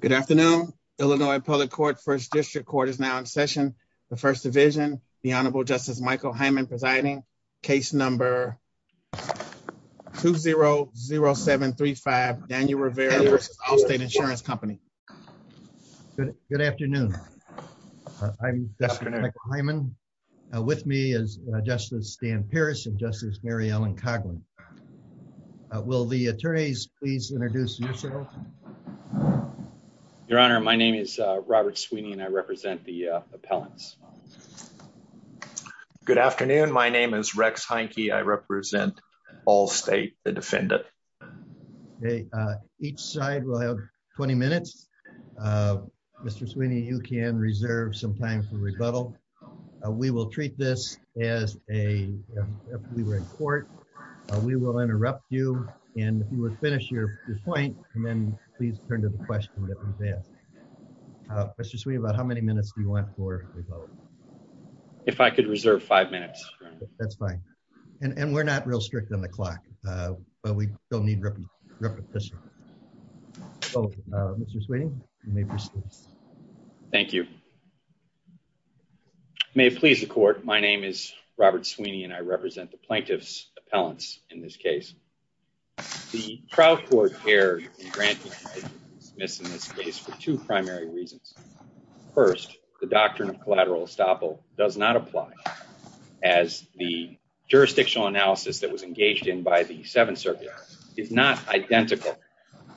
Good afternoon, Illinois Public Court, 1st District Court is now in session. The First Division, the Honorable Justice Michael Hyman presiding, case number 2-0-0-7-3-5, Daniel Rivera v. Allstate Insurance Company. Good afternoon. I'm Justice Michael Hyman. With me is Justice Dan Pierce and Justice Mary Ellen Coghlan. Will the attorneys please introduce yourselves? Your Honor, my name is Robert Sweeney and I represent the appellants. Good afternoon. My name is Rex Heineke. I represent Allstate, the defendant. Okay, each side will have 20 minutes. Mr. Sweeney, you can reserve some time for rebuttal. We will treat this as if we were in court. We will interrupt you and if you would finish your point and then please turn to the question that was asked. Mr. Sweeney, about how many minutes do you want for rebuttal? If I could reserve five minutes, Your Honor. That's fine. And we're not real strict on the clock, but we still need repetition. So, Mr. Sweeney, you may proceed. Thank you. May it please the court, my name is Robert Sweeney and I represent the plaintiffs appellants in this case. The trial court erred in granting dismiss in this case for two primary reasons. First, the doctrine of collateral estoppel does not apply as the jurisdictional analysis that was engaged in by the Seventh Circuit is not identical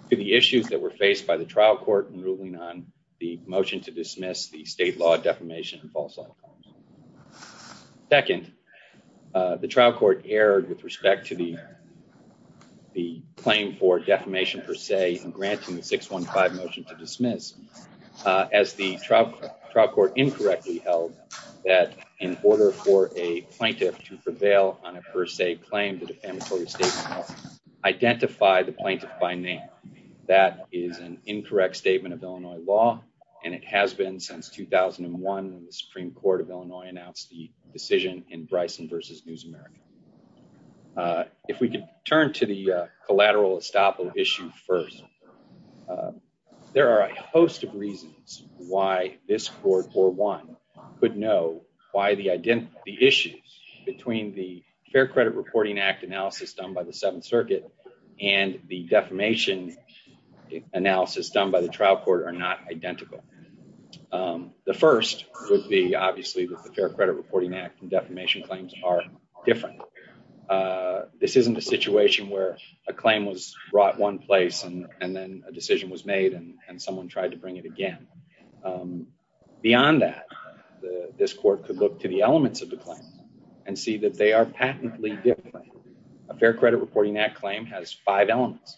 to the issues that were faced by the trial court in ruling on the motion to dismiss the state law defamation and false law. Second, the trial court erred with respect to the claim for defamation per se in granting the 615 motion to dismiss as the trial court incorrectly held that in order for a plaintiff to prevail on a per se claim to defamatory statement, identify the plaintiff by name. That is an incorrect statement of Illinois law and it has been since 2001 when the Supreme Court of Illinois announced the decision in Bryson versus News America. If we could turn to the collateral estoppel issue first, there are a host of reasons why this court or one could know why the identity issues between the Fair Credit Reporting Act analysis done by the Seventh Circuit and the defamation analysis done by the trial court are not identical. The first would be obviously that the Fair Credit Reporting Act and defamation claims are different. This isn't a situation where a claim was brought one place and then a decision was made and someone tried to bring it again. Beyond that, this court could look to the elements of the claim and see that they are patently different. A Fair Credit Reporting Act claim has five elements.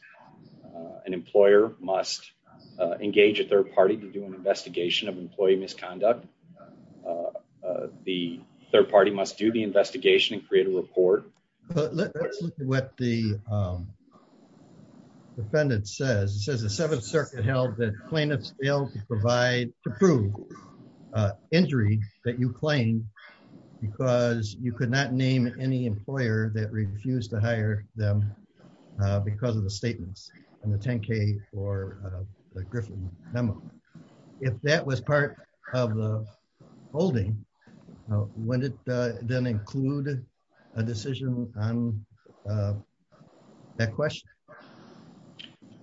An employer must engage a third party to do an investigation of employee misconduct. The third party must do the investigation and create a report. Let's look at what the defendant says. It says the Seventh Circuit held that plaintiffs failed to provide to prove injury that you claimed because you could not name any employer that refused to hire them because of the statements in the 10k or the Griffin memo. If that was part of the holding, would it then include a decision on that question?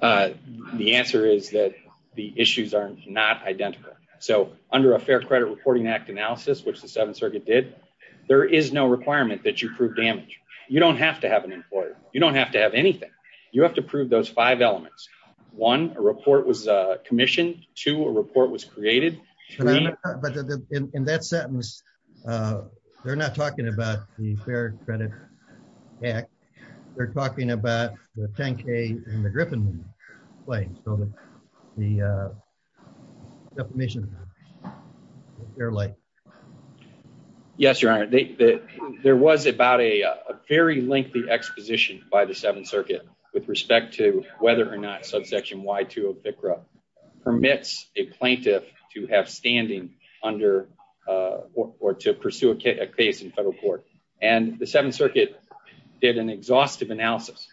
The answer is that the issues are not identical. So under a Fair Credit Reporting Act analysis, which the Seventh Circuit did, there is no to have anything. You have to prove those five elements. One, a report was commissioned. Two, a report was created. But in that sentence, they're not talking about the Fair Credit Act. They're talking about the 10k and the Griffin claim. So the defamation, you're late. Yes, Your Honor. There was about a very lengthy exposition by the Seventh Circuit with respect to whether or not subsection Y2 of FCRA permits a plaintiff to have standing under or to pursue a case in federal court. And the Seventh Circuit did an exhaustive analysis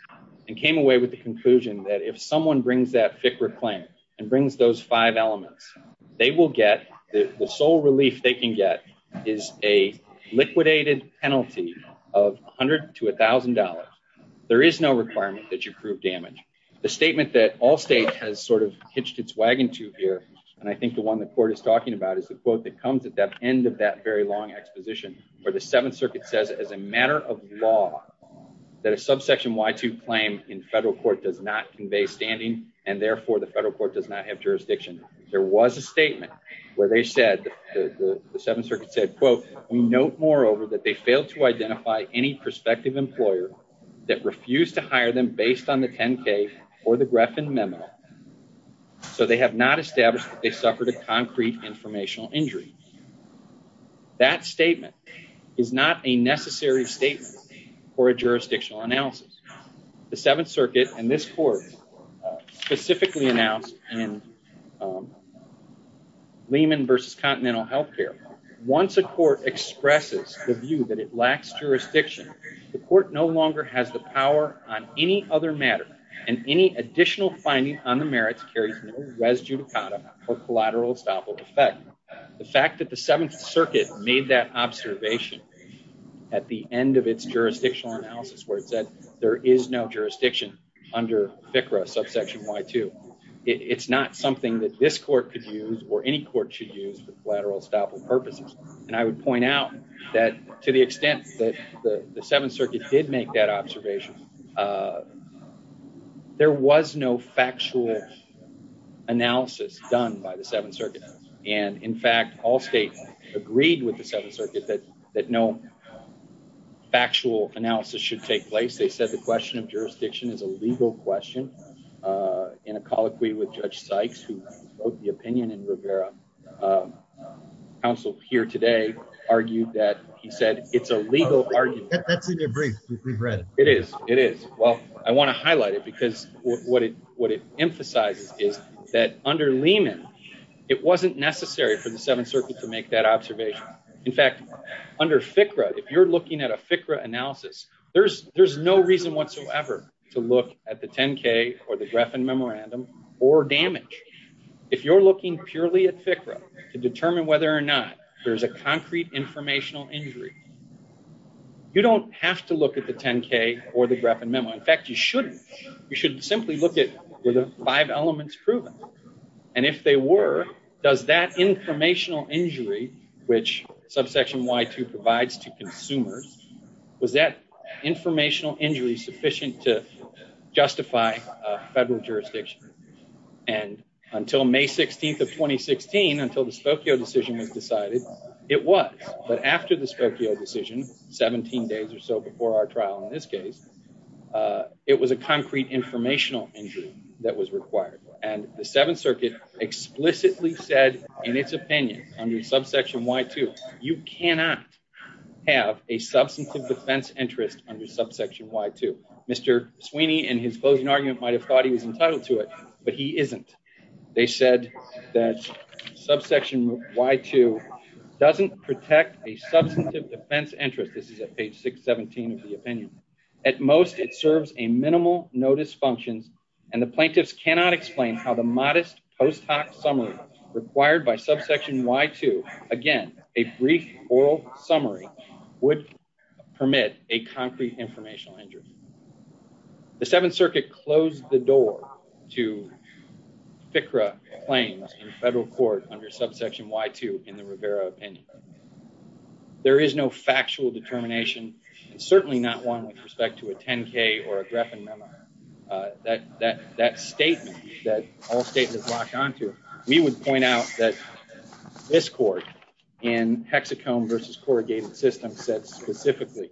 and came away with the conclusion that if someone brings that FCRA claim and brings those five elements, the sole relief they can get is a liquidated penalty of $100 to $1,000. There is no requirement that you prove damage. The statement that all states has sort of hitched its wagon to here, and I think the one the court is talking about, is the quote that comes at the end of that very long exposition where the Seventh Circuit says, as a matter of law, that a subsection Y2 claim in federal court does not convey standing, and therefore the federal court does not have jurisdiction. There was a statement where they said, the Seventh Circuit said, quote, we note moreover that they failed to identify any prospective employer that refused to hire them based on the 10k or the Griffin memo. So they have not established that they suffered a concrete informational injury. That statement is not a necessary statement for a jurisdictional analysis. The Seventh Circuit and this court specifically announced in Lehman versus Continental Healthcare, once a court expresses the view that it lacks jurisdiction, the court no longer has the power on any other matter and any additional finding on the merits carries no res judicata or collateral estoppel effect. The fact that the Seventh Circuit made that observation at the end of its jurisdictional analysis where it said there is no jurisdiction under FCRA subsection Y2, it's not something that this court could use or any court should use for collateral estoppel purposes, and I would point out that to the extent that the Seventh Circuit did make that observation, there was no factual analysis done by the Seventh Circuit, and in fact, all states agreed with the Seventh Circuit that that no factual analysis should take place. They said the question of jurisdiction is a legal question. In a colloquy with Judge Sykes who wrote the opinion in Rivera, counsel here today argued that he said it's a legal argument. That's in your brief we've read. It is, it is. Well, I want to highlight it because what it emphasizes is that under Lehman, it wasn't necessary for the Seventh Circuit to make that observation. In fact, under FCRA, if you're looking at a FCRA analysis, there's no reason whatsoever to look at the 10K or the Greffin Memorandum or damage. If you're looking purely at FCRA to determine whether or not there's a concrete informational injury, you don't have to look at the 10K or the Greffin Memo. In fact, you shouldn't. You should simply look at were the five elements proven, and if they were, does that informational injury which Subsection Y2 provides to consumers, was that informational injury sufficient to justify a federal jurisdiction? And until May 16th of 2016, until the Spokio decision was decided, it was. But after the Spokio decision, 17 days or so before our trial in this case, it was a concrete informational injury that was required. And the Seventh Circuit explicitly said in its opinion under Subsection Y2, you cannot have a substantive defense interest under Subsection Y2. Mr. Sweeney in his closing argument might have thought he was entitled to it, but he isn't. They said that Subsection Y2 doesn't protect a substantive defense interest. This is at page 617 of the opinion. At most, it serves a minimal notice functions, and the plaintiffs cannot explain how the modest post hoc summary required by Subsection Y2, again, a brief oral summary, would permit a concrete informational injury. The Seventh Circuit closed the door to FCRA claims in federal court under Subsection Y2 in the Rivera opinion. There is no factual determination, and certainly not one with respect to a 10-K or a Griffin memo. That statement that all statements lock onto, we would point out that this court in hexacomb versus corrugated system said specifically,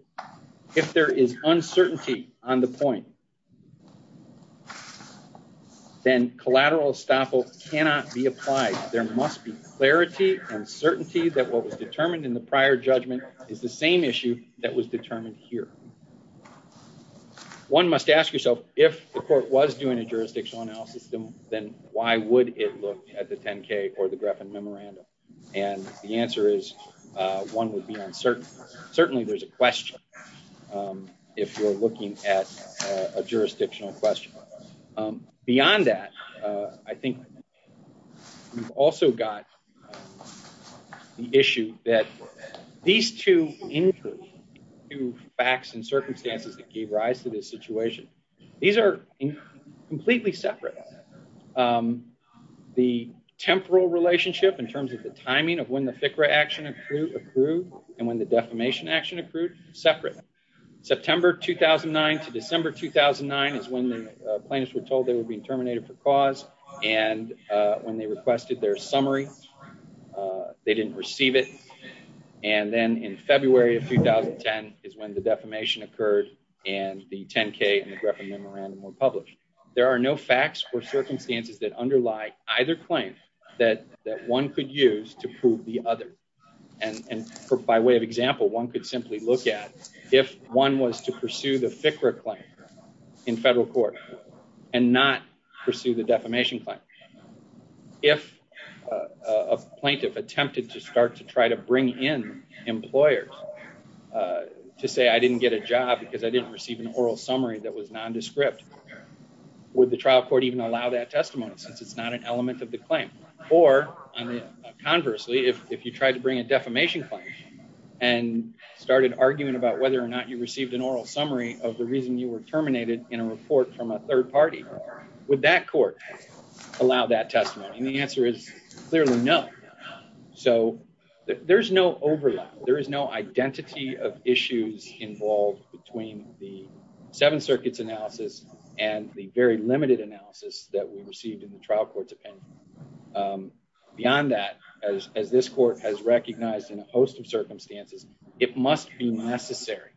if there is uncertainty on the point, then collateral estoppel cannot be applied. There must be clarity and certainty that what was determined in the prior judgment is the same issue that was determined here. One must ask yourself, if the court was doing a jurisdictional analysis, then why would it look at the 10-K or the Griffin memorandum? And the answer is one would be uncertain. Certainly, there's a question if you're looking at a jurisdictional question. Beyond that, I think we've also got the issue that these two facts and circumstances that gave rise to this situation, these are completely separate. The temporal relationship in terms of the timing of when FCRA action accrued and when the defamation action accrued, separate. September 2009 to December 2009 is when the plaintiffs were told they were being terminated for cause, and when they requested their summary, they didn't receive it. And then in February of 2010 is when the defamation occurred and the 10-K and the Griffin memorandum were published. There are no facts or circumstances that underlie either claim that one could use to the other. And by way of example, one could simply look at if one was to pursue the FCRA claim in federal court and not pursue the defamation claim. If a plaintiff attempted to start to try to bring in employers to say, I didn't get a job because I didn't receive an oral summary that was nondescript, would the trial court even allow that testimony since it's not an element of the claim? Or conversely, if you tried to bring a defamation claim and started arguing about whether or not you received an oral summary of the reason you were terminated in a report from a third party, would that court allow that testimony? And the answer is clearly no. So there's no overlap. There is no identity of issues involved between the Seventh Circuit's analysis and the very beyond that, as this court has recognized in a host of circumstances, it must be necessary.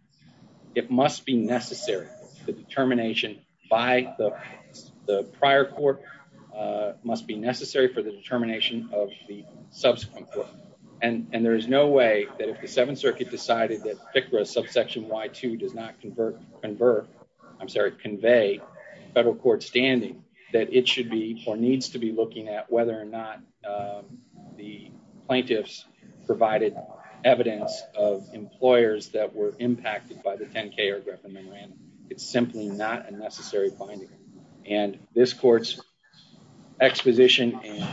It must be necessary. The determination by the prior court must be necessary for the determination of the subsequent court. And there is no way that if the Seventh Circuit decided that FCRA subsection Y2 does not convert, I'm sorry, convey federal court standing, that it should be or needs to be looking at whether or not the plaintiffs provided evidence of employers that were impacted by the 10-K or Griffin-Moran. It's simply not a necessary finding. And this court's exposition in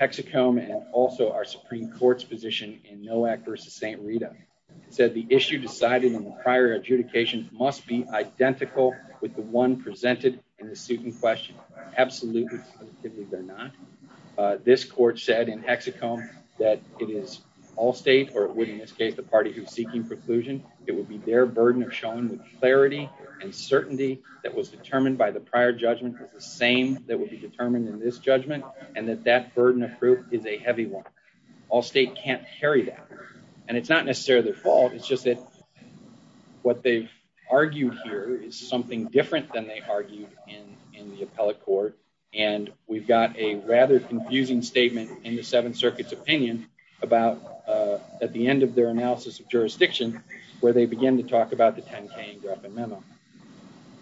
Hexacombe and also our Supreme Court's position in NOAC versus St. Rita, said the issue decided in the prior adjudication must be identical with the one presented in the suit in question. Absolutely, they're not. This court said in Hexacombe that it is all state, or it would in this case, the party who's seeking preclusion. It would be their burden of showing the clarity and certainty that was determined by the prior judgment is the same that would be determined in this judgment, and that that burden of proof is a heavy one. All state can't carry that. And it's not necessarily their fault. It's just that what they've argued here is something different than they argued in the appellate court. And we've got a rather confusing statement in the Seventh Circuit's opinion about at the end of their analysis of jurisdiction, where they begin to talk about the 10-K and Griffin memo.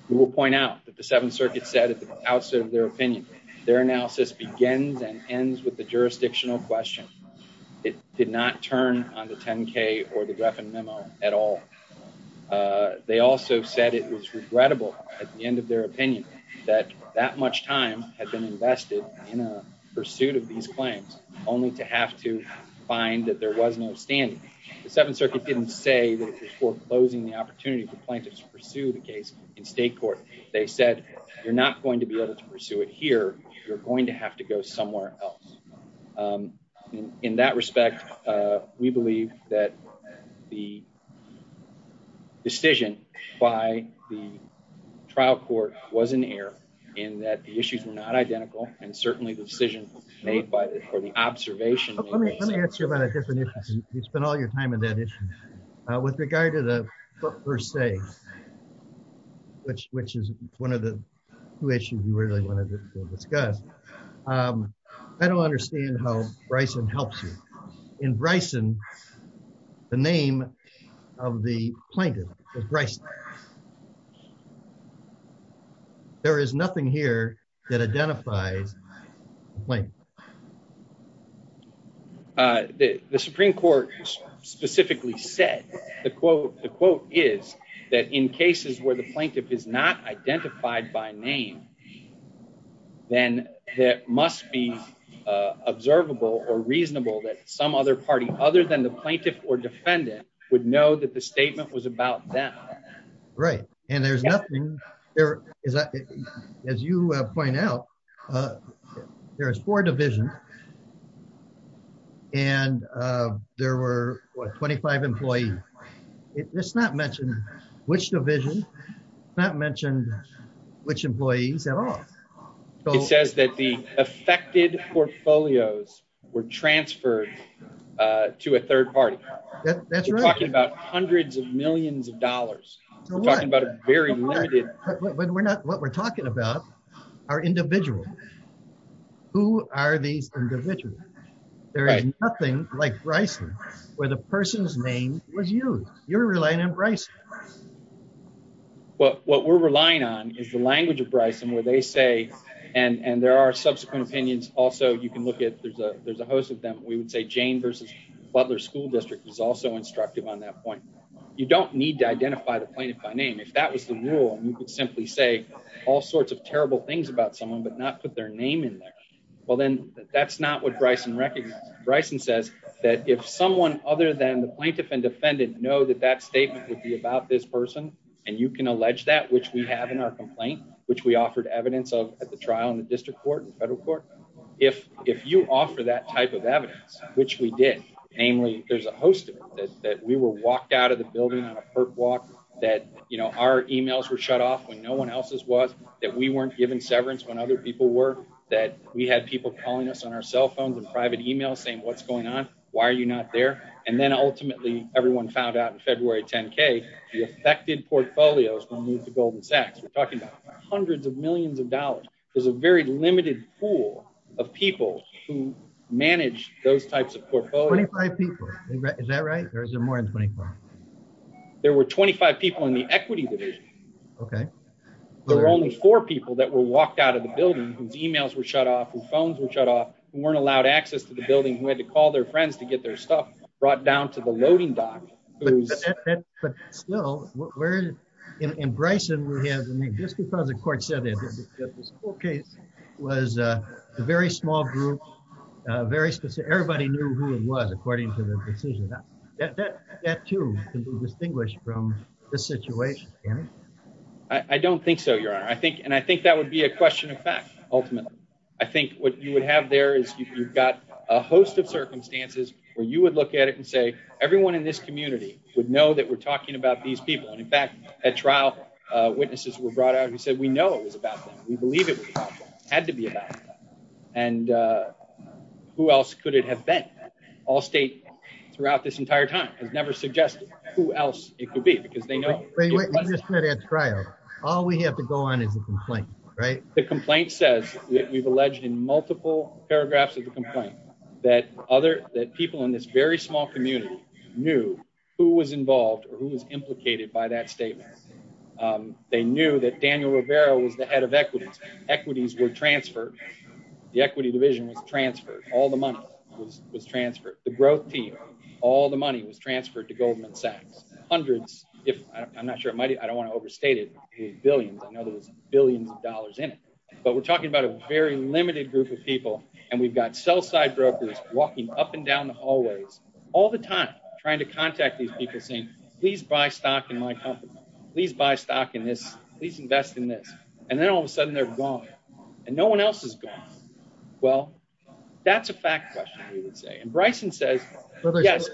We will point out that the Seventh Circuit said at the outset of their opinion, their analysis begins and ends with the jurisdictional question. It did not turn on the 10-K or the Griffin memo at all. They also said it was regrettable at the end of their opinion that that much time had been invested in a pursuit of these claims, only to have to find that there was no standing. The Seventh Circuit didn't say that it was foreclosing the opportunity for plaintiffs to pursue the case in state court. They said, you're not going to be able to pursue it here. You're going to have to go somewhere else. In that respect, we believe that the decision by the trial court was in error, in that the issues were not identical. And certainly the decision made by or the observation- Let me ask you about a different issue. You spent all your time on that issue. With regard to the first say, which is one of the two issues you really wanted to discuss, I don't understand how Bryson helps you. In Bryson, the name of the plaintiff is Bryson. There is nothing here that identifies the plaintiff. The Supreme Court specifically said, the quote is that in cases where the plaintiff is not there, it must be observable or reasonable that some other party, other than the plaintiff or defendant, would know that the statement was about them. Right. And there's nothing there. As you point out, there is four divisions and there were 25 employees. It's not mentioned which division, not mentioned which employees at all. It says that the affected portfolios were transferred to a third party. That's right. We're talking about hundreds of millions of dollars. We're talking about a very limited- But what we're talking about are individuals. Who are these individuals? There is nothing like Bryson where the person's name was used. You're relying on Bryson. What we're relying on is the language of Bryson where they say, and there are subsequent opinions. Also, you can look at, there's a host of them, we would say Jane versus Butler School District was also instructive on that point. You don't need to identify the plaintiff by name. If that was the rule, you could simply say all sorts of terrible things about someone, but not put their name in there. Well, then that's not what Bryson recognizes. Bryson says that if someone other than the state would be about this person, and you can allege that, which we have in our complaint, which we offered evidence of at the trial in the district court and federal court. If you offer that type of evidence, which we did, namely, there's a host of them, that we were walked out of the building on a perp walk, that our emails were shut off when no one else's was, that we weren't given severance when other people were, that we had people calling us on our cell phones and private emails saying, what's going on? Why are you not there? Then ultimately everyone found out in February 10K, the affected portfolios were moved to Golden Sacks. We're talking about hundreds of millions of dollars. There's a very limited pool of people who manage those types of portfolios. 25 people, is that right? Or is there more than 25? There were 25 people in the equity division. Okay. There were only four people that were walked out of the building whose emails were shut off, whose phones were shut off, who weren't allowed access to the building, who had to call their loading dock. But still, in Bryson, we have, I mean, just because the court said that this whole case was a very small group, everybody knew who it was according to the decision. That too can be distinguished from the situation. I don't think so, your honor. I think that would be a question of fact, ultimately. I think what you would have there is you've got a host of everyone in this community would know that we're talking about these people. And in fact, at trial, witnesses were brought out who said, we know it was about them. We believe it had to be about them. And who else could it have been? All state throughout this entire time has never suggested who else it could be because they know. You just said at trial, all we have to go on is a complaint, right? The complaint says that we've alleged in multiple paragraphs of the complaint that people in this very small community knew who was involved or who was implicated by that statement. They knew that Daniel Rivera was the head of equities. Equities were transferred. The equity division was transferred. All the money was transferred. The growth team, all the money was transferred to Goldman Sachs. Hundreds, if I'm not sure, I don't want to overstate it, billions. I know there was billions of dollars in it. But we're talking about a very walking up and down the hallways all the time, trying to contact these people saying, please buy stock in my company, please buy stock in this, please invest in this. And then all of a sudden they're gone and no one else is gone. Well, that's a fact question, we would say. And Bryson says, yes.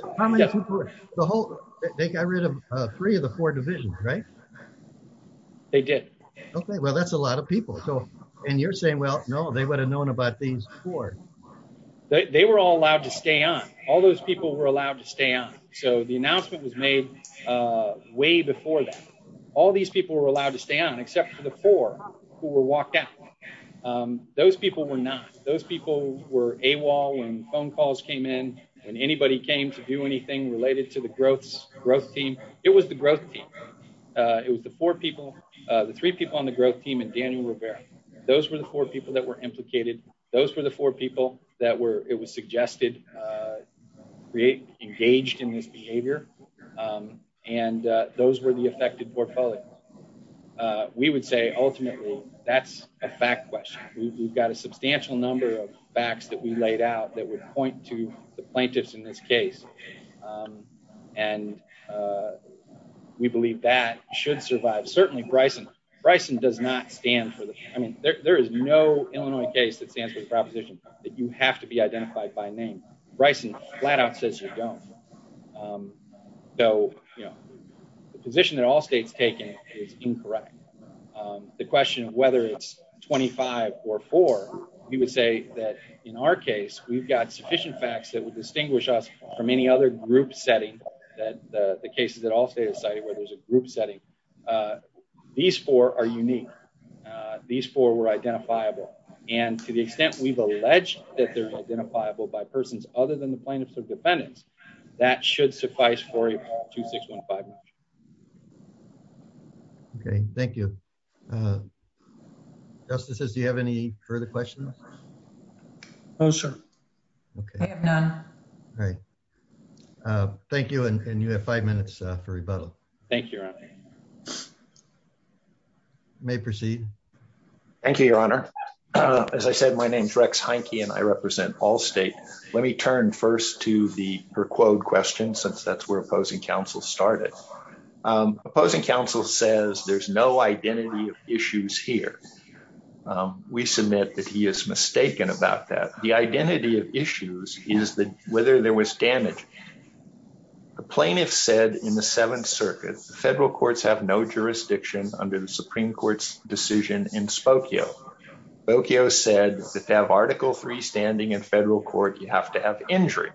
They got rid of three of the four divisions, right? They did. Okay. Well, that's a lot of people. So, and you're saying, well, no, they would have known about these four. They were all allowed to stay on. All those people were allowed to stay on. So, the announcement was made way before that. All these people were allowed to stay on except for the four who were walked out. Those people were not. Those people were AWOL when phone calls came in and anybody came to do anything related to the growth team. It was the growth team. It was the four people, the three people on the growth team and Daniel that were implicated. Those were the four people that were, it was suggested, engaged in this behavior. And those were the affected portfolio. We would say ultimately that's a fact question. We've got a substantial number of facts that we laid out that would point to the plaintiffs in this case. And we believe that should survive. Certainly Bryson does not stand for this. I mean, there is no Illinois case that stands for the proposition that you have to be identified by name. Bryson flat out says you don't. So, the position that all states taken is incorrect. The question of whether it's 25 or four, we would say that in our case, we've got sufficient facts that would distinguish us from any other group setting that the cases where there's a group setting. These four are unique. These four were identifiable. And to the extent we've alleged that they're identifiable by persons other than the plaintiffs or defendants, that should suffice for a 2615. Okay. Thank you. Justices, do you have any further questions? No, sir. Okay. I have none. All right. Thank you. And you have five minutes for rebuttal. Thank you, Your Honor. You may proceed. Thank you, Your Honor. As I said, my name is Rex Heinke and I represent all state. Let me turn first to the per quote question since that's where opposing counsel started. Opposing counsel says there's no identity of issues here. We submit that he is mistaken about that. The identity of issues is that whether there was damage. The plaintiffs said in the Seventh Circuit, the federal courts have no jurisdiction under the Supreme Court's decision in Spokio. Spokio said that to have Article III standing in federal court, you have to have injury.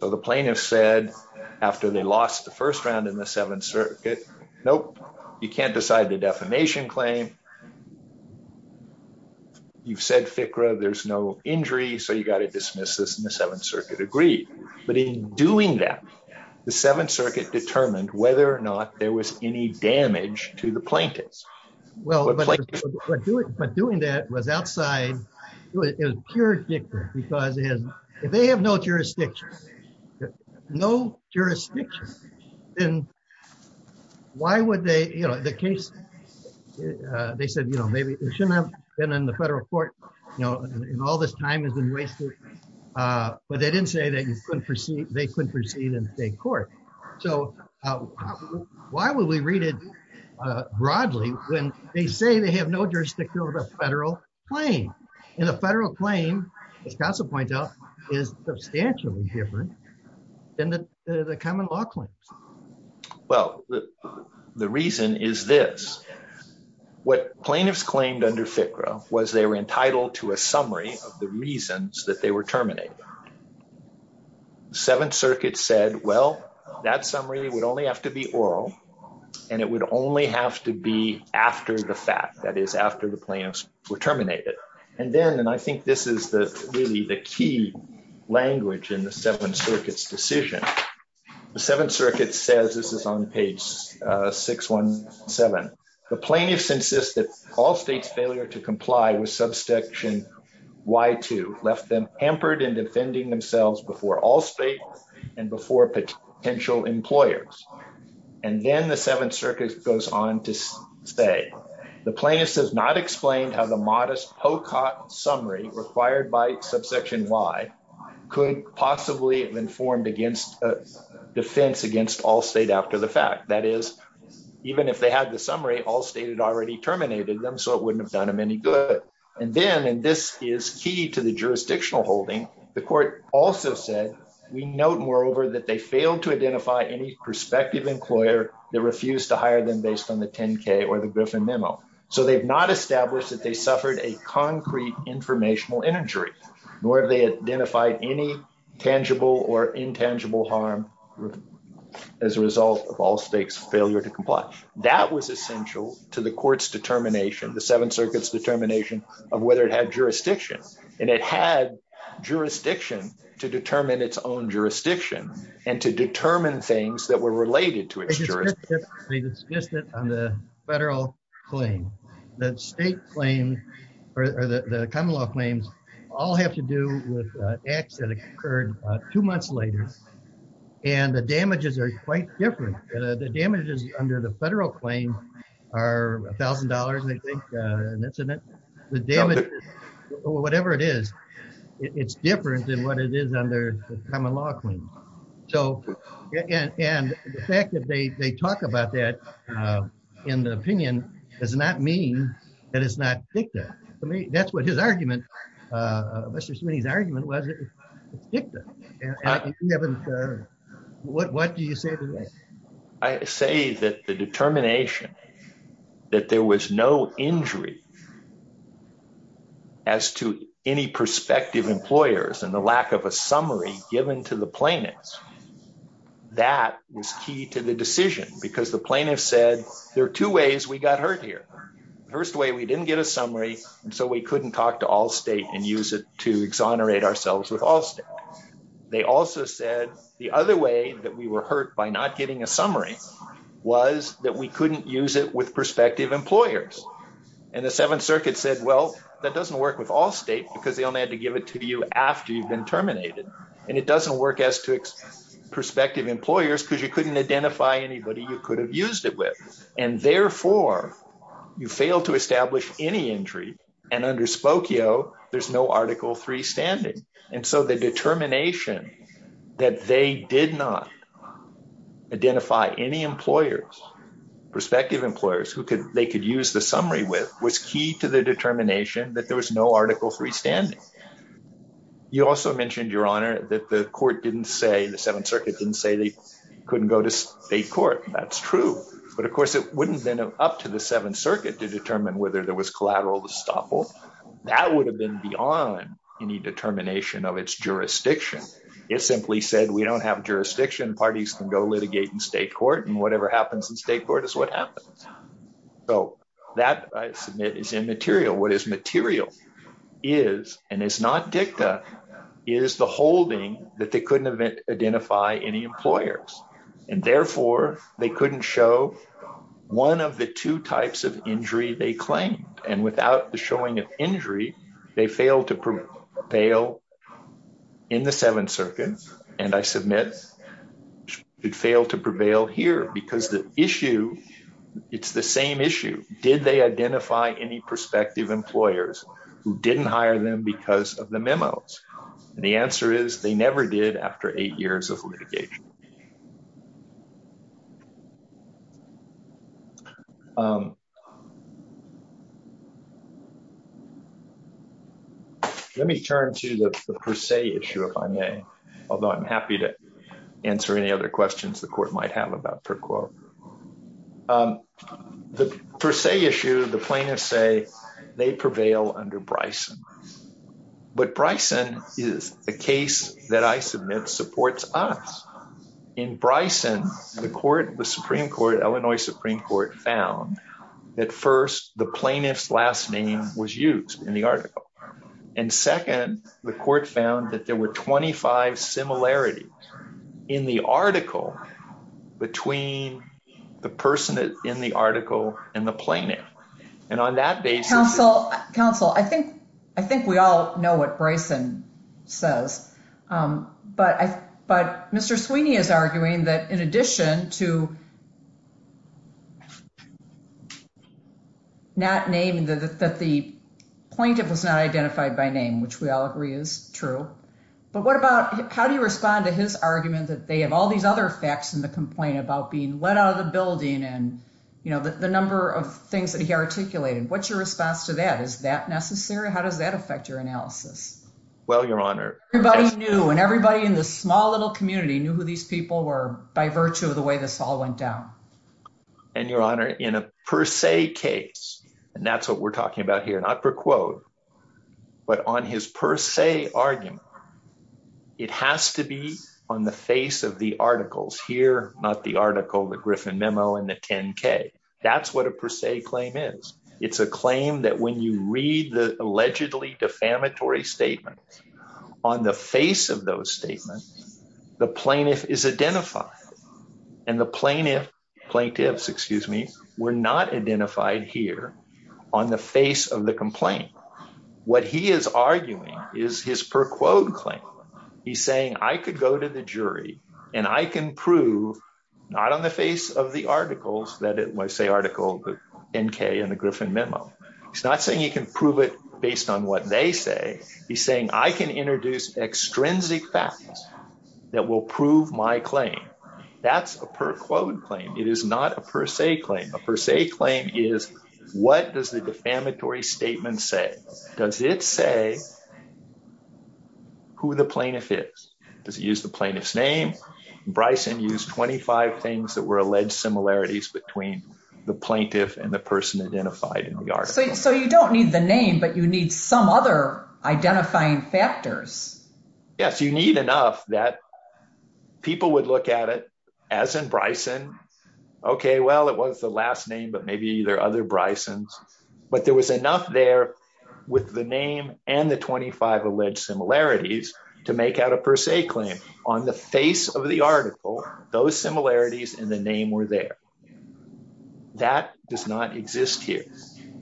So, the plaintiffs said after they lost the first round in the Seventh Circuit, nope, you can't decide the defamation claim. You've said, FICRA, there's no injury. So, you got to dismiss this in the Seventh Circuit agreed. But in doing that, the Seventh Circuit determined whether or not there was any damage to the plaintiffs. Well, but doing that was outside, it was pure dictum because if they have no jurisdiction, no jurisdiction, then why would they, you know, the case, they said, you know, maybe it shouldn't have been in the federal court, you know, and all this time has been wasted. But they didn't say that you couldn't proceed, they couldn't proceed in state court. So, why would we read it broadly when they say they have no jurisdiction over the federal claim? And the federal claim, as counsel points out, is substantially different than the common law claims. Well, the reason is this. What plaintiffs claimed under FICRA was they were entitled to a summary of the reasons that they were terminated. The Seventh Circuit said, well, that summary would only have to be oral and it would only have to be after the fact, that is, after the plaintiffs were terminated. And then, and I think this is the really the key language in the Seventh Circuit's decision, the Seventh Circuit says, this is on page 617, the plaintiffs insist that all states failure to comply with subsection Y2 left them hampered in defending themselves before all states and before potential employers. And then the Seventh Circuit goes on to say, the plaintiffs have not explained how the modest POCOT summary required by subsection Y could possibly have been formed against a defense against all state after the fact, that is, even if they had the summary, all state had already terminated them, so it wouldn't have done them any good. And then, this is key to the jurisdictional holding, the court also said, we note moreover that they failed to identify any prospective employer that refused to hire them based on the 10-K or the Griffin memo. So they've not established that they suffered a concrete informational injury, nor have they identified any tangible or intangible harm as a result of all states failure to comply. That was essential to the court's determination, the Seventh Circuit's determination of whether it had jurisdiction, and it had jurisdiction to determine its own jurisdiction and to determine things that were related to its jurisdiction. It's just that on the federal claim, that state claim or the common law claims all have to do with acts that occurred two months later, and the damages are quite different. The damages under the federal claim are a thousand dollars, that's an incident, the damage or whatever it is, it's different than what it is under the common law claim. So, and the fact that they talk about that in the opinion does not mean that it's not dicta. I mean, that's what his argument, Mr. Smitty's argument was, it's dicta. Yeah, what do you say to that? I say that the determination that there was no injury as to any prospective employers and the lack of a summary given to the plaintiffs, that was key to the decision, because the plaintiffs said, there are two ways we got hurt here. First way, we didn't get a summary, and so we couldn't talk to all state and use it to exonerate ourselves with Allstate. They also said the other way that we were hurt by not getting a summary was that we couldn't use it with prospective employers. And the Seventh Circuit said, well, that doesn't work with Allstate because they only had to give it to you after you've been terminated. And it doesn't work as to prospective employers because you couldn't identify anybody you could have used it with. And therefore, you fail to establish any injury. And under Spokio, there's no Article III standing. And so the determination that they did not identify any employers, prospective employers, who they could use the summary with was key to the determination that there was no Article III standing. You also mentioned, Your Honor, that the court didn't say, the Seventh Circuit didn't say they couldn't go to state court. That's true. But of course, it wouldn't have been up to the Seventh Circuit to determine whether there was collateral estoppel. That would have been beyond any determination of its jurisdiction. It simply said, we don't have jurisdiction. Parties can go litigate in state court. And whatever happens in state court is what happens. So that, I submit, is immaterial. What is material is, and it's not dicta, is the holding that they couldn't identify any employers. And therefore, they couldn't show one of the two types of injury they claimed. And without the showing of injury, they failed to prevail in the Seventh Circuit. And I submit, it failed to prevail here. Because the issue, it's the same issue. Did they identify any prospective employers who didn't hire them because of the memos? And the answer is, they never did after eight years of litigation. Let me turn to the per se issue, if I may. Although I'm happy to answer any other questions the court might have about per quo. The per se issue, the plaintiffs say they prevail under Bryson. But Bryson is a case that I submit supports us. In Bryson, the court, the Supreme Court, Illinois Supreme Court, found that first, the plaintiff's last name was used in the article. And second, the court found that there were 25 similarities in the article between the person in the article and the plaintiff. And on that basis- know what Bryson says. But Mr. Sweeney is arguing that in addition to not naming, that the plaintiff was not identified by name, which we all agree is true. But what about, how do you respond to his argument that they have all these other facts in the complaint about being let out of the building and, you know, the number of things that he articulated? What's your response to that? Is that necessary? How does that affect your analysis? Well, Your Honor- Everybody knew, and everybody in this small little community knew who these people were by virtue of the way this all went down. And Your Honor, in a per se case, and that's what we're talking about here, not per quo, but on his per se argument, it has to be on the face of the articles. Here, not the article, the Griffin Memo, and the 10-K. That's what a per se claim is. It's a claim that when you read the allegedly defamatory statements, on the face of those statements, the plaintiff is identified. And the plaintiffs were not identified here on the face of the complaint. What he is arguing is his per quo claim. He's saying, I could go to the jury, and I can prove, not on the face of the articles that say article 10-K and the Griffin Memo. He's not saying he can prove it based on what they say. He's saying, I can introduce extrinsic facts that will prove my claim. That's a per quo claim. It is not a per se claim. A per se claim is, what does the defamatory statement say? Does it say who the plaintiff is? Does it use the plaintiff's name? Bryson used 25 things that were alleged similarities between the plaintiff and the person identified in the article. So you don't need the name, but you need some other identifying factors. Yes, you need enough that people would look at it as in Bryson. Okay, well, it was the last name, but maybe there are other Brysons. But there was enough there with the name and the 25 alleged similarities to make out a per se claim. On the face of the article, those similarities and the name were there. That does not exist here.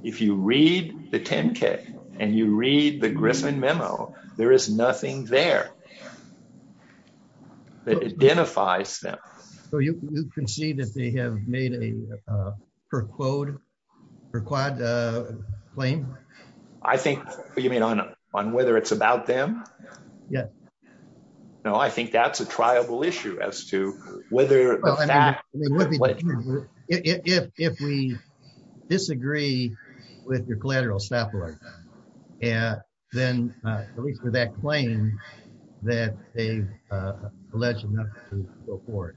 If you read the 10-K and you read the Griffin Memo, there is nothing there that identifies them. So you concede that they have made a per quod claim? I think you mean on whether it's about them? Yes. No, I think that's a triable issue as to whether the fact... If we disagree with your collateral and then at least with that claim that they've alleged enough to go forward.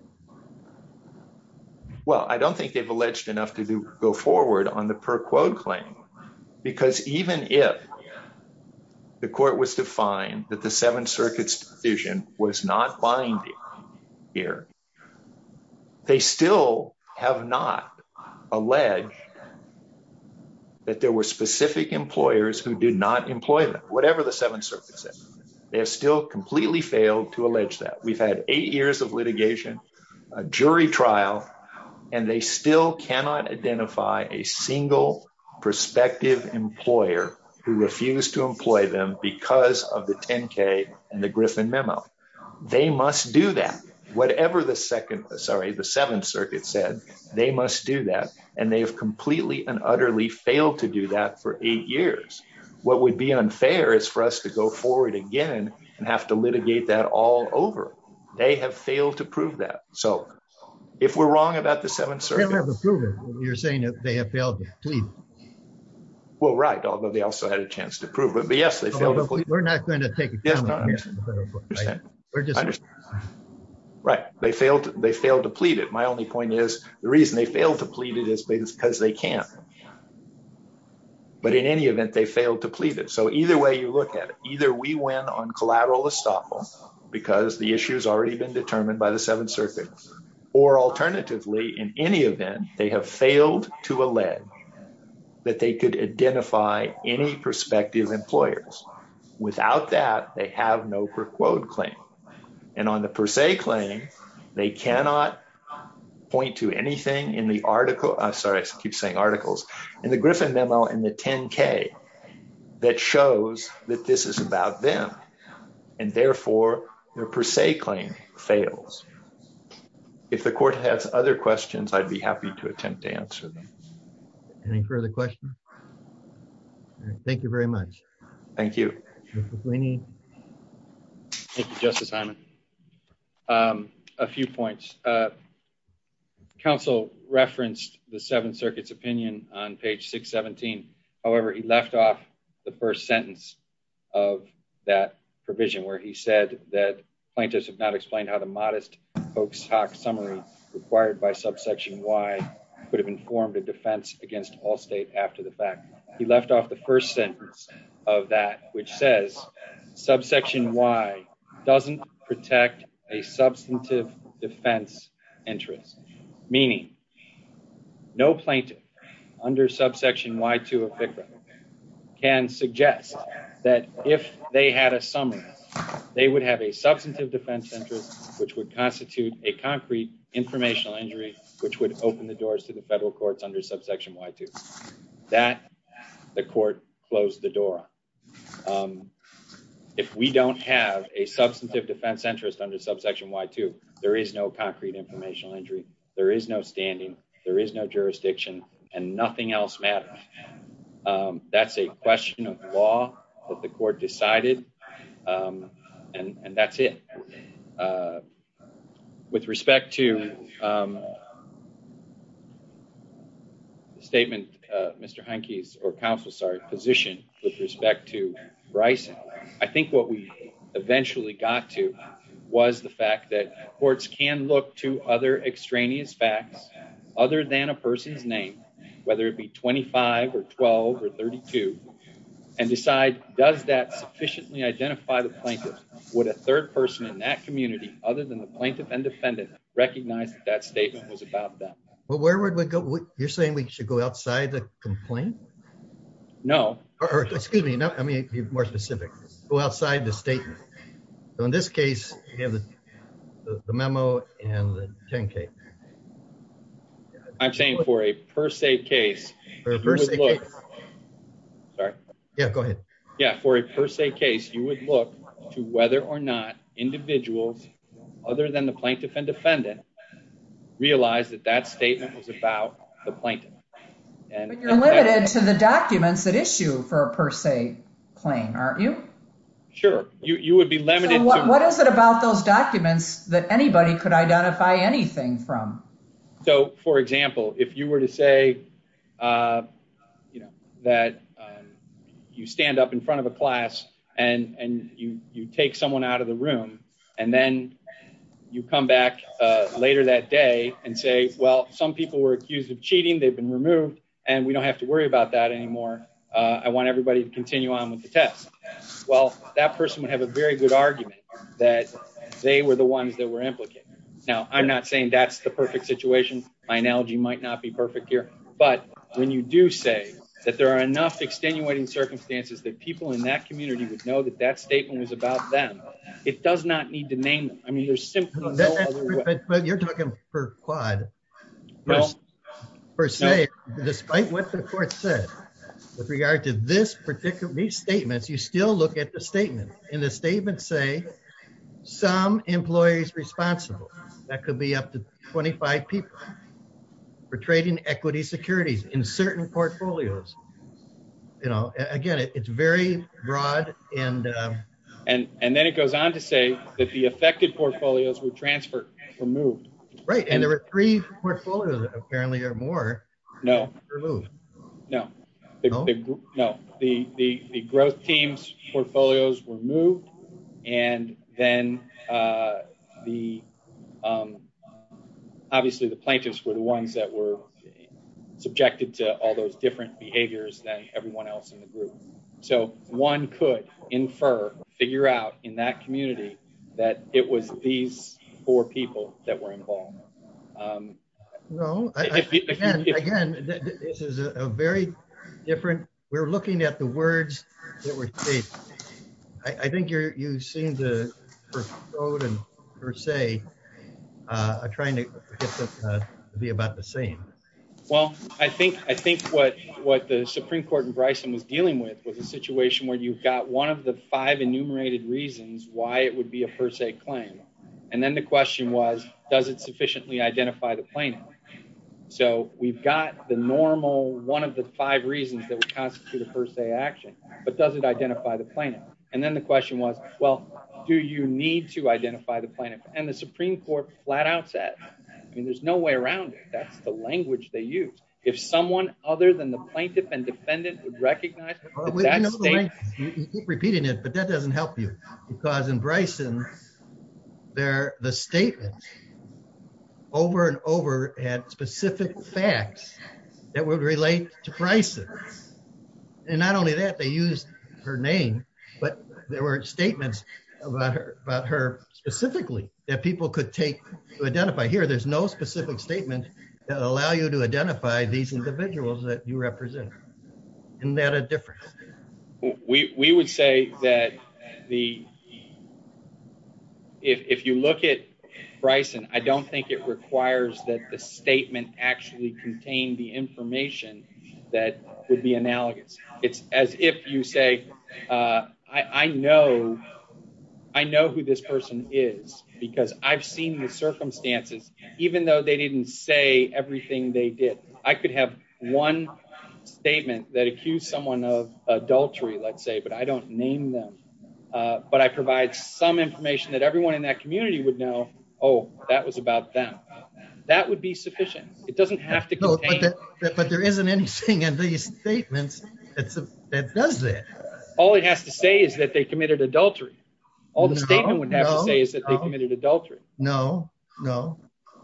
Well, I don't think they've alleged enough to go forward on the per quod claim because even if the court was to find that the Seventh Circuit's decision was not binding here, they still have not alleged that there were specific employers who did not employ them, whatever the Seventh Circuit said. They have still completely failed to allege that. We've had eight years of litigation, a jury trial, and they still cannot identify a single prospective employer who refused to employ them because of the 10-K and the Griffin Memo. They must do that. Whatever the Seventh Circuit said, they must do that, and they have completely and utterly failed to do that for eight years. What would be unfair is for us to go forward again and have to litigate that all over. They have failed to prove that. So if we're wrong about the Seventh Circuit... They don't have to prove it. You're saying that they have failed to plead. Well, right, although they also had a chance to prove it. But yes, they failed to plead. We're not going to take it. Right, they failed to plead it. My only point is the reason they failed to plead it is because they can't. But in any event, they failed to plead it. So either way you look at it, either we win on collateral estoppel because the issue has already been determined by the Seventh Circuit, or alternatively, in any event, they have failed to allege that they could identify any prospective employers. Without that, they have no per quote claim. And on the per se claim, they cannot point to anything in the article. I'm sorry, I keep saying articles in the Griffin memo in the 10k that shows that this is about them. And therefore, their per se claim fails. If the court has other questions, I'd be happy to attempt to answer them. Any further questions? Thank you very much. Thank you. Thank you, Justice Simon. A few points. Council referenced the Seventh Circuit's opinion on page 617. However, he left off the first sentence of that provision where he said that plaintiffs have not explained how the modest hoax hoc summary required by subsection Y could have informed a defense against all state after the fact. He left off the first sentence of that, which says subsection Y doesn't protect a substantive defense interest, meaning no plaintiff under subsection Y2 of FCRA can suggest that if they had a summary, they would have a substantive defense interest, which would constitute a concrete informational injury, which would open the doors to the federal courts under subsection Y2. That, the court closed the door on. If we don't have a substantive defense interest under subsection Y2, there is no concrete informational injury, there is no standing, there is no jurisdiction, and nothing else matters. That's a question of law that the with respect to the statement, Mr. Henke's, or counsel's, sorry, position with respect to Bryson, I think what we eventually got to was the fact that courts can look to other extraneous facts other than a person's name, whether it be 25 or 12 or 32, and decide does that sufficiently identify the other than the plaintiff and defendant recognized that statement was about them. Well, where would we go? You're saying we should go outside the complaint? No. Or, excuse me, I mean, be more specific. Go outside the statement. So in this case, the memo and the 10K. I'm saying for a per se case. Sorry. Yeah, go ahead. Yeah, for a per se case, you would look to whether or not individuals other than the plaintiff and defendant realized that that statement was about the plaintiff. But you're limited to the documents that issue for a per se claim, aren't you? Sure. You would be limited. What is it about those documents that anybody could identify anything from? So, for example, if you were to say that you stand up in front of a class and you take someone out of the room and then you come back later that day and say, well, some people were accused of cheating. They've been removed and we don't have to worry about that anymore. I want everybody to continue on with the test. Well, that person would have a very good argument that they were the ones that were implicated. Now, I'm not saying that's the perfect situation. My analogy might not be perfect here. But when you do say that there are enough extenuating circumstances that people in that community would know that that statement was about them, it does not need to name it. I mean, there's simply no other way. But you're talking per quad. Well, per se, despite what the court said with regard to this particular statement, you still look at the statement and the statement say some employees responsible. That could be up to 25 people for trading equity securities in certain portfolios. You know, again, it's very broad. And and then it goes on to say that the affected portfolios were transferred, removed. Right. And there were three portfolios, apparently, or more. No, no, no. The growth teams portfolios were moved. And then the obviously the plaintiffs were the ones that were subjected to all those different behaviors than everyone else in the group. So one could infer, figure out in that community that it was these four people that were involved. No, again, this is a very different. We're looking at the words that were. I think you're voting per se, trying to be about the same. Well, I think I think what what the Supreme Court and Bryson was dealing with was a situation where you've got one of the five enumerated reasons why it would be a per se claim. And then the question was, does it sufficiently identify the plaintiff? So we've got the normal one of the five reasons that would constitute a per se action. But does it identify the plaintiff? And then the question was, well, do you need to identify the plaintiff? And the Supreme Court flat out said, I mean, there's no way around it. That's the language they use. If someone other than the plaintiff and defendant would recognize repeating it, but that doesn't help you because in Bryson there, the statement over and over had specific facts that would relate to Bryson. And not only that, they used her name, but there were statements about her, about her specifically that people could take to identify here. There's no specific statement that allow you to identify these individuals that you represent. Isn't that a difference? We would say that the, if you look at Bryson, I don't think it requires that the information that would be analogous. It's as if you say, I know who this person is because I've seen the circumstances, even though they didn't say everything they did. I could have one statement that accused someone of adultery, let's say, but I don't name them. But I provide some information that everyone in that community would know. Oh, that was about them. That would be sufficient. It doesn't have to contain. But there isn't anything in these statements that does that. All it has to say is that they committed adultery. All the statement would have to say is that they committed adultery. No, no.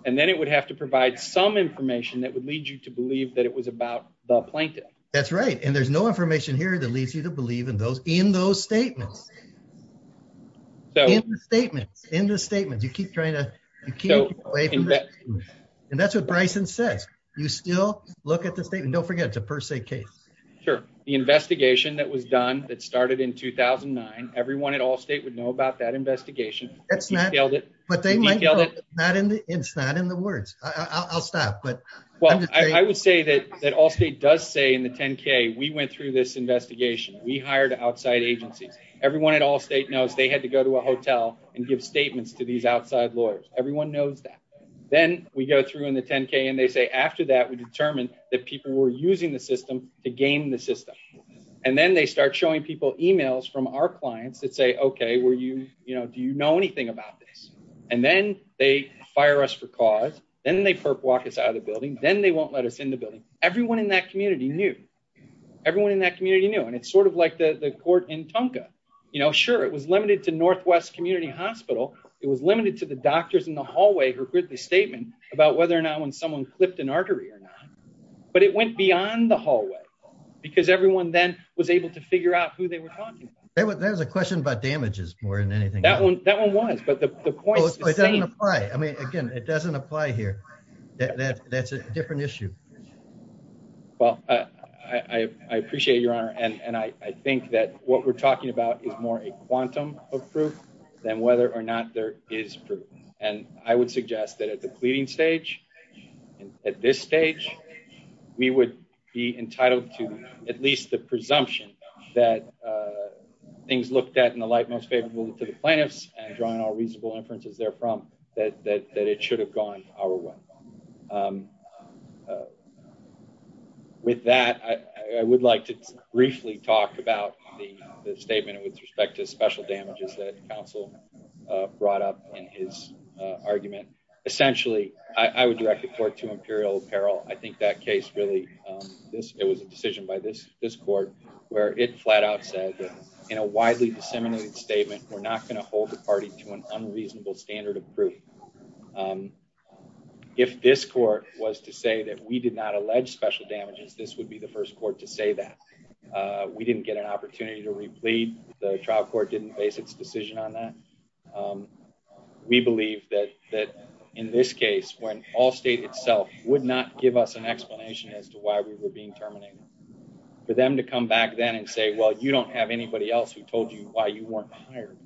And then it would have to provide some information that would lead you to believe that it was about the plaintiff. That's right. And there's no information here that leads you to believe in those statements. In the statements, you keep trying to, you can't you still look at the statement. Don't forget it's a per se case. Sure. The investigation that was done that started in 2009, everyone at Allstate would know about that investigation. It's not in the words. I'll stop. I would say that Allstate does say in the 10K, we went through this investigation. We hired outside agencies. Everyone at Allstate knows they had to go to a hotel and give statements to these outside lawyers. Everyone knows that. Then we go through in the 10K and they say, after that, we determined that people were using the system to game the system. And then they start showing people emails from our clients that say, okay, were you, you know, do you know anything about this? And then they fire us for cause. Then they perp walk us out of the building. Then they won't let us in the building. Everyone in that community knew. Everyone in that community knew. And it's sort of like the court in Tonka. You know, sure. It was limited to Northwest Community Hospital. It was limited to the statement about whether or not when someone clipped an artery or not, but it went beyond the hallway because everyone then was able to figure out who they were talking about. There's a question about damages more than anything. That one was, but the point is the same. It doesn't apply. I mean, again, it doesn't apply here. That's a different issue. Well, I appreciate your honor. And I think that what we're talking about is more a quantum of and I would suggest that at the pleading stage and at this stage, we would be entitled to at least the presumption that things looked at in the light most favorable to the plaintiffs and drawing all reasonable inferences there from that, that, that it should have gone our way. With that, I would like to briefly talk about the statement with respect to special damages that counsel brought up in his argument. Essentially, I would direct the court to Imperial apparel. I think that case really, it was a decision by this court where it flat out said that in a widely disseminated statement, we're not going to hold the party to an unreasonable standard of proof. If this court was to say that we did not allege special damages, this would be the first court to say that we didn't get an opportunity to replete. The trial court didn't base its decision on that. We believe that, that in this case, when all state itself would not give us an explanation as to why we were being terminated for them to come back then and say, well, you don't have anybody else who told you why you weren't hired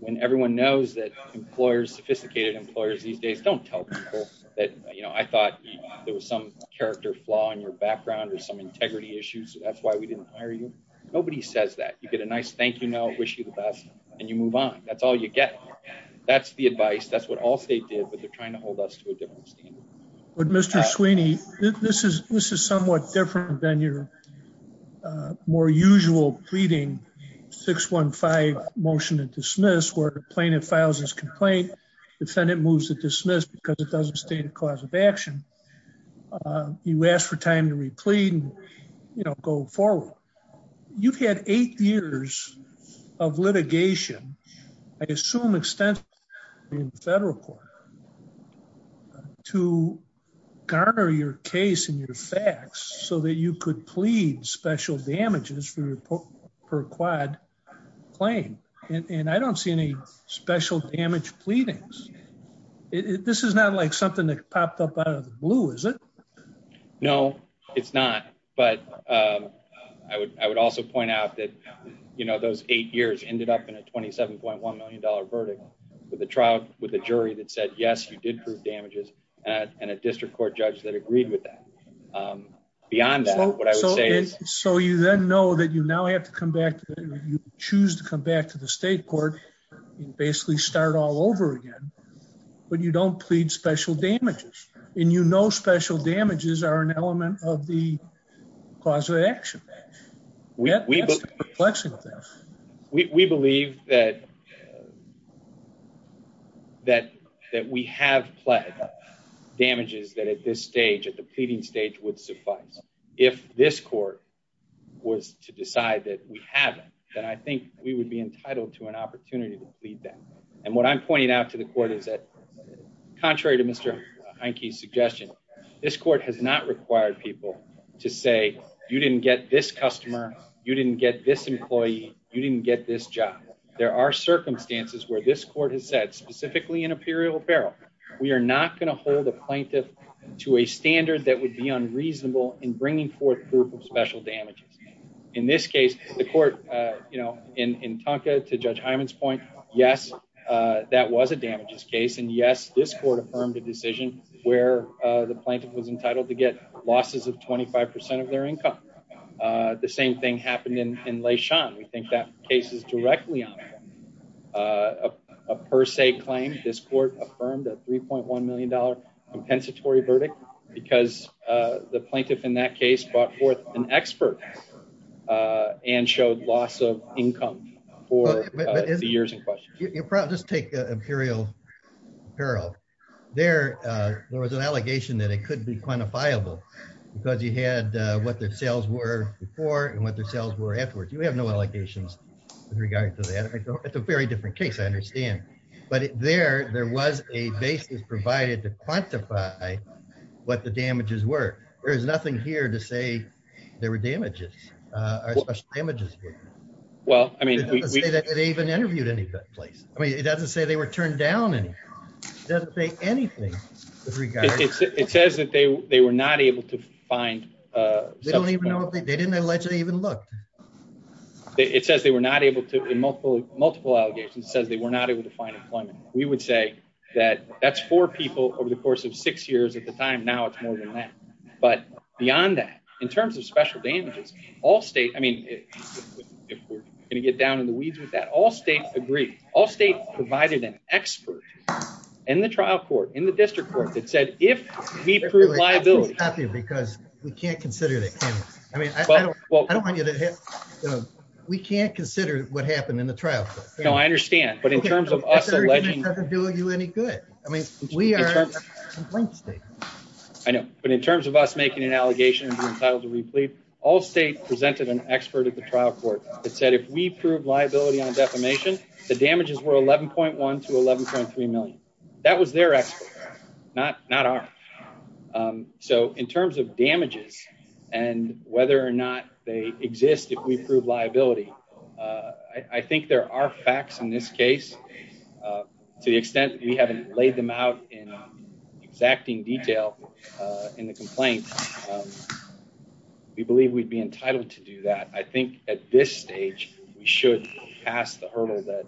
when everyone knows that employers, sophisticated employers these days, don't tell people that, you know, I thought there was some character flaw in your background or some nice thank you note, wish you the best and you move on. That's all you get. That's the advice. That's what all state did, but they're trying to hold us to a different standard. But Mr. Sweeney, this is somewhat different than your more usual pleading 615 motion to dismiss where plaintiff files his complaint, defendant moves to dismiss because it doesn't state a action. You ask for time to replete and, you know, go forward. You've had eight years of litigation, I assume extensive in federal court to garner your case and your facts so that you could plead special damages for your per quad claim. And I don't see any special damage pleadings. This is not like something that popped up out of the blue, is it? No, it's not. But I would also point out that, you know, those eight years ended up in a $27.1 million verdict with a trial with a jury that said, yes, you did prove damages and a district court judge that agreed with that. Beyond that, what I would say is. So you then know that you now have to come back, you choose to come back to the state court and basically start all over again. But you don't plead special damages and you know special damages are an element of the cause of action. We believe that we have pled damages that at this stage, at the pleading stage would suffice. If this court was to decide that we haven't, then I think we would be entitled to an opportunity to plead them. And what I'm pointing out to the court is that contrary to Mr. Hankey's suggestion, this court has not required people to say you didn't get this customer, you didn't get this employee, you didn't get this job. There are circumstances where this court has said specifically in a period of apparel, we are not going to hold a plaintiff to a standard that would be unreasonable in bringing forth proof of special damages. In this case, the court, you know, in Tonka to Judge Hyman's point, yes, that was a damages case and yes, this court affirmed a decision where the plaintiff was entitled to get losses of 25 percent of their income. The same thing happened in Leishan. We think that case is directly on a per se claim. This court affirmed a 3.1 million dollar verdict because the plaintiff in that case brought forth an expert and showed loss of income for the years in question. Just take Imperial Apparel. There was an allegation that it could be quantifiable because you had what their sales were before and what their sales were afterwards. You have no allegations with regard to that. It's a very different case, but there was a basis provided to quantify what the damages were. There is nothing here to say there were damages or special damages. Well, I mean, it doesn't say that they even interviewed any place. I mean, it doesn't say they were turned down. It doesn't say anything. It says that they were not able to find. They don't even know. They didn't allegedly even look. It says they were not able to in multiple multiple allegations says they were not able to find employment. We would say that that's four people over the course of six years at the time. Now, it's more than that. But beyond that, in terms of special damages, all state, I mean, if we're going to get down in the weeds with that, all states agree. All states provided an expert in the trial court, in the district court that said, if we prove liability, because we can't consider that. I mean, well, I don't want you to hit. We can't consider what happened in the trial. No, I understand. But in terms of us doing you any good, I mean, we are I know, but in terms of us making an allegation entitled to replete, all state presented an expert at the trial court that said, if we prove liability on defamation, the damages were 11.1 to 11.3 million. That was their expert, not not our. So in terms of damages and whether or not they exist, if we prove liability, I think there are facts in this case to the extent we haven't laid them out in exacting detail in the complaint. We believe we'd be entitled to do that. I think at this stage we should pass the hurdle that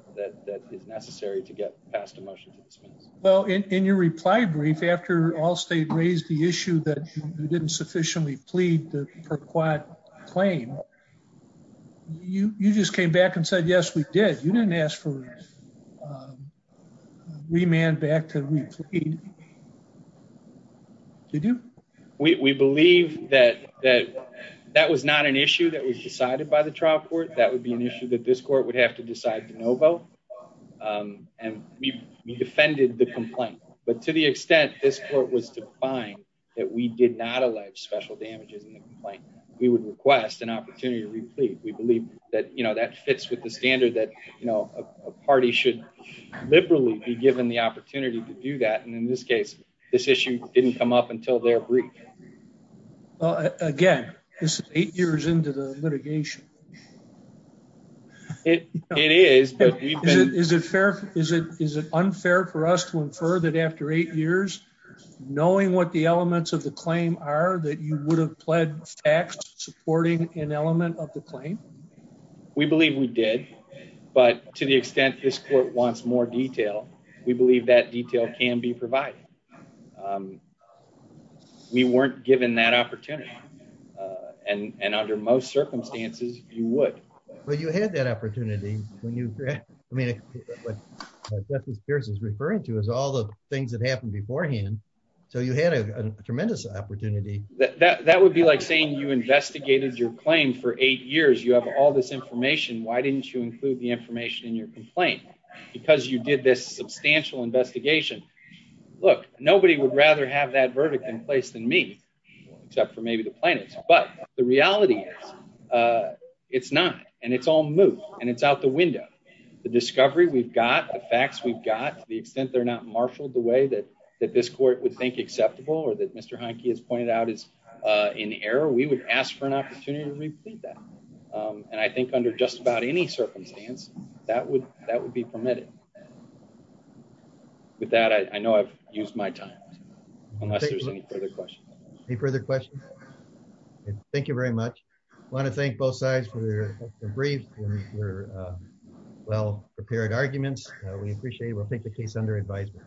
that is necessary to get passed a motion to dismiss. Well, in your reply brief after all state raised the issue that you didn't sufficiently plead for quite claim, you just came back and said, yes, we did. You didn't ask for remand back to repeat. Did you? We believe that that that was not an issue that was decided by the trial court. That would be an issue that this court would have to decide to no vote. And we defended the complaint. But to the extent this court was to find that we did not elect special damages in the complaint, we would request an opportunity to repeat. We believe that that fits with the standard that a party should liberally be given the opportunity to do that. And in this case, this issue didn't come up until their brief. Well, again, this is eight years into the litigation. It is, but is it fair? Is it? Is it unfair for us to infer that after eight years, knowing what the elements of the claim are that you would have pled facts supporting an element of the claim? We believe we did. But to the extent this court wants more detail, we believe that detail can be provided. We weren't given that opportunity. And under most circumstances, you would. But you had that opportunity when you read, I mean, what this is referring to is all the things that happened beforehand. So you had a tremendous opportunity. That would be like saying you investigated your claim for eight years. You have all this information. Why didn't you include the information in your complaint? Because you did this substantial investigation. Look, nobody would rather have that verdict in place than me, except for maybe the plaintiffs. But the reality is it's not. And it's all moot. And it's out the window. The discovery we've got, the facts we've got, the extent they're marshaled the way that this court would think acceptable or that Mr. Heinke has pointed out is in error, we would ask for an opportunity to repeat that. And I think under just about any circumstance, that would be permitted. With that, I know I've used my time, unless there's any further questions. Any further questions? Thank you very much. I want to thank both sides for their brief and well-prepared arguments. We appreciate it. We'll take the case under advisement.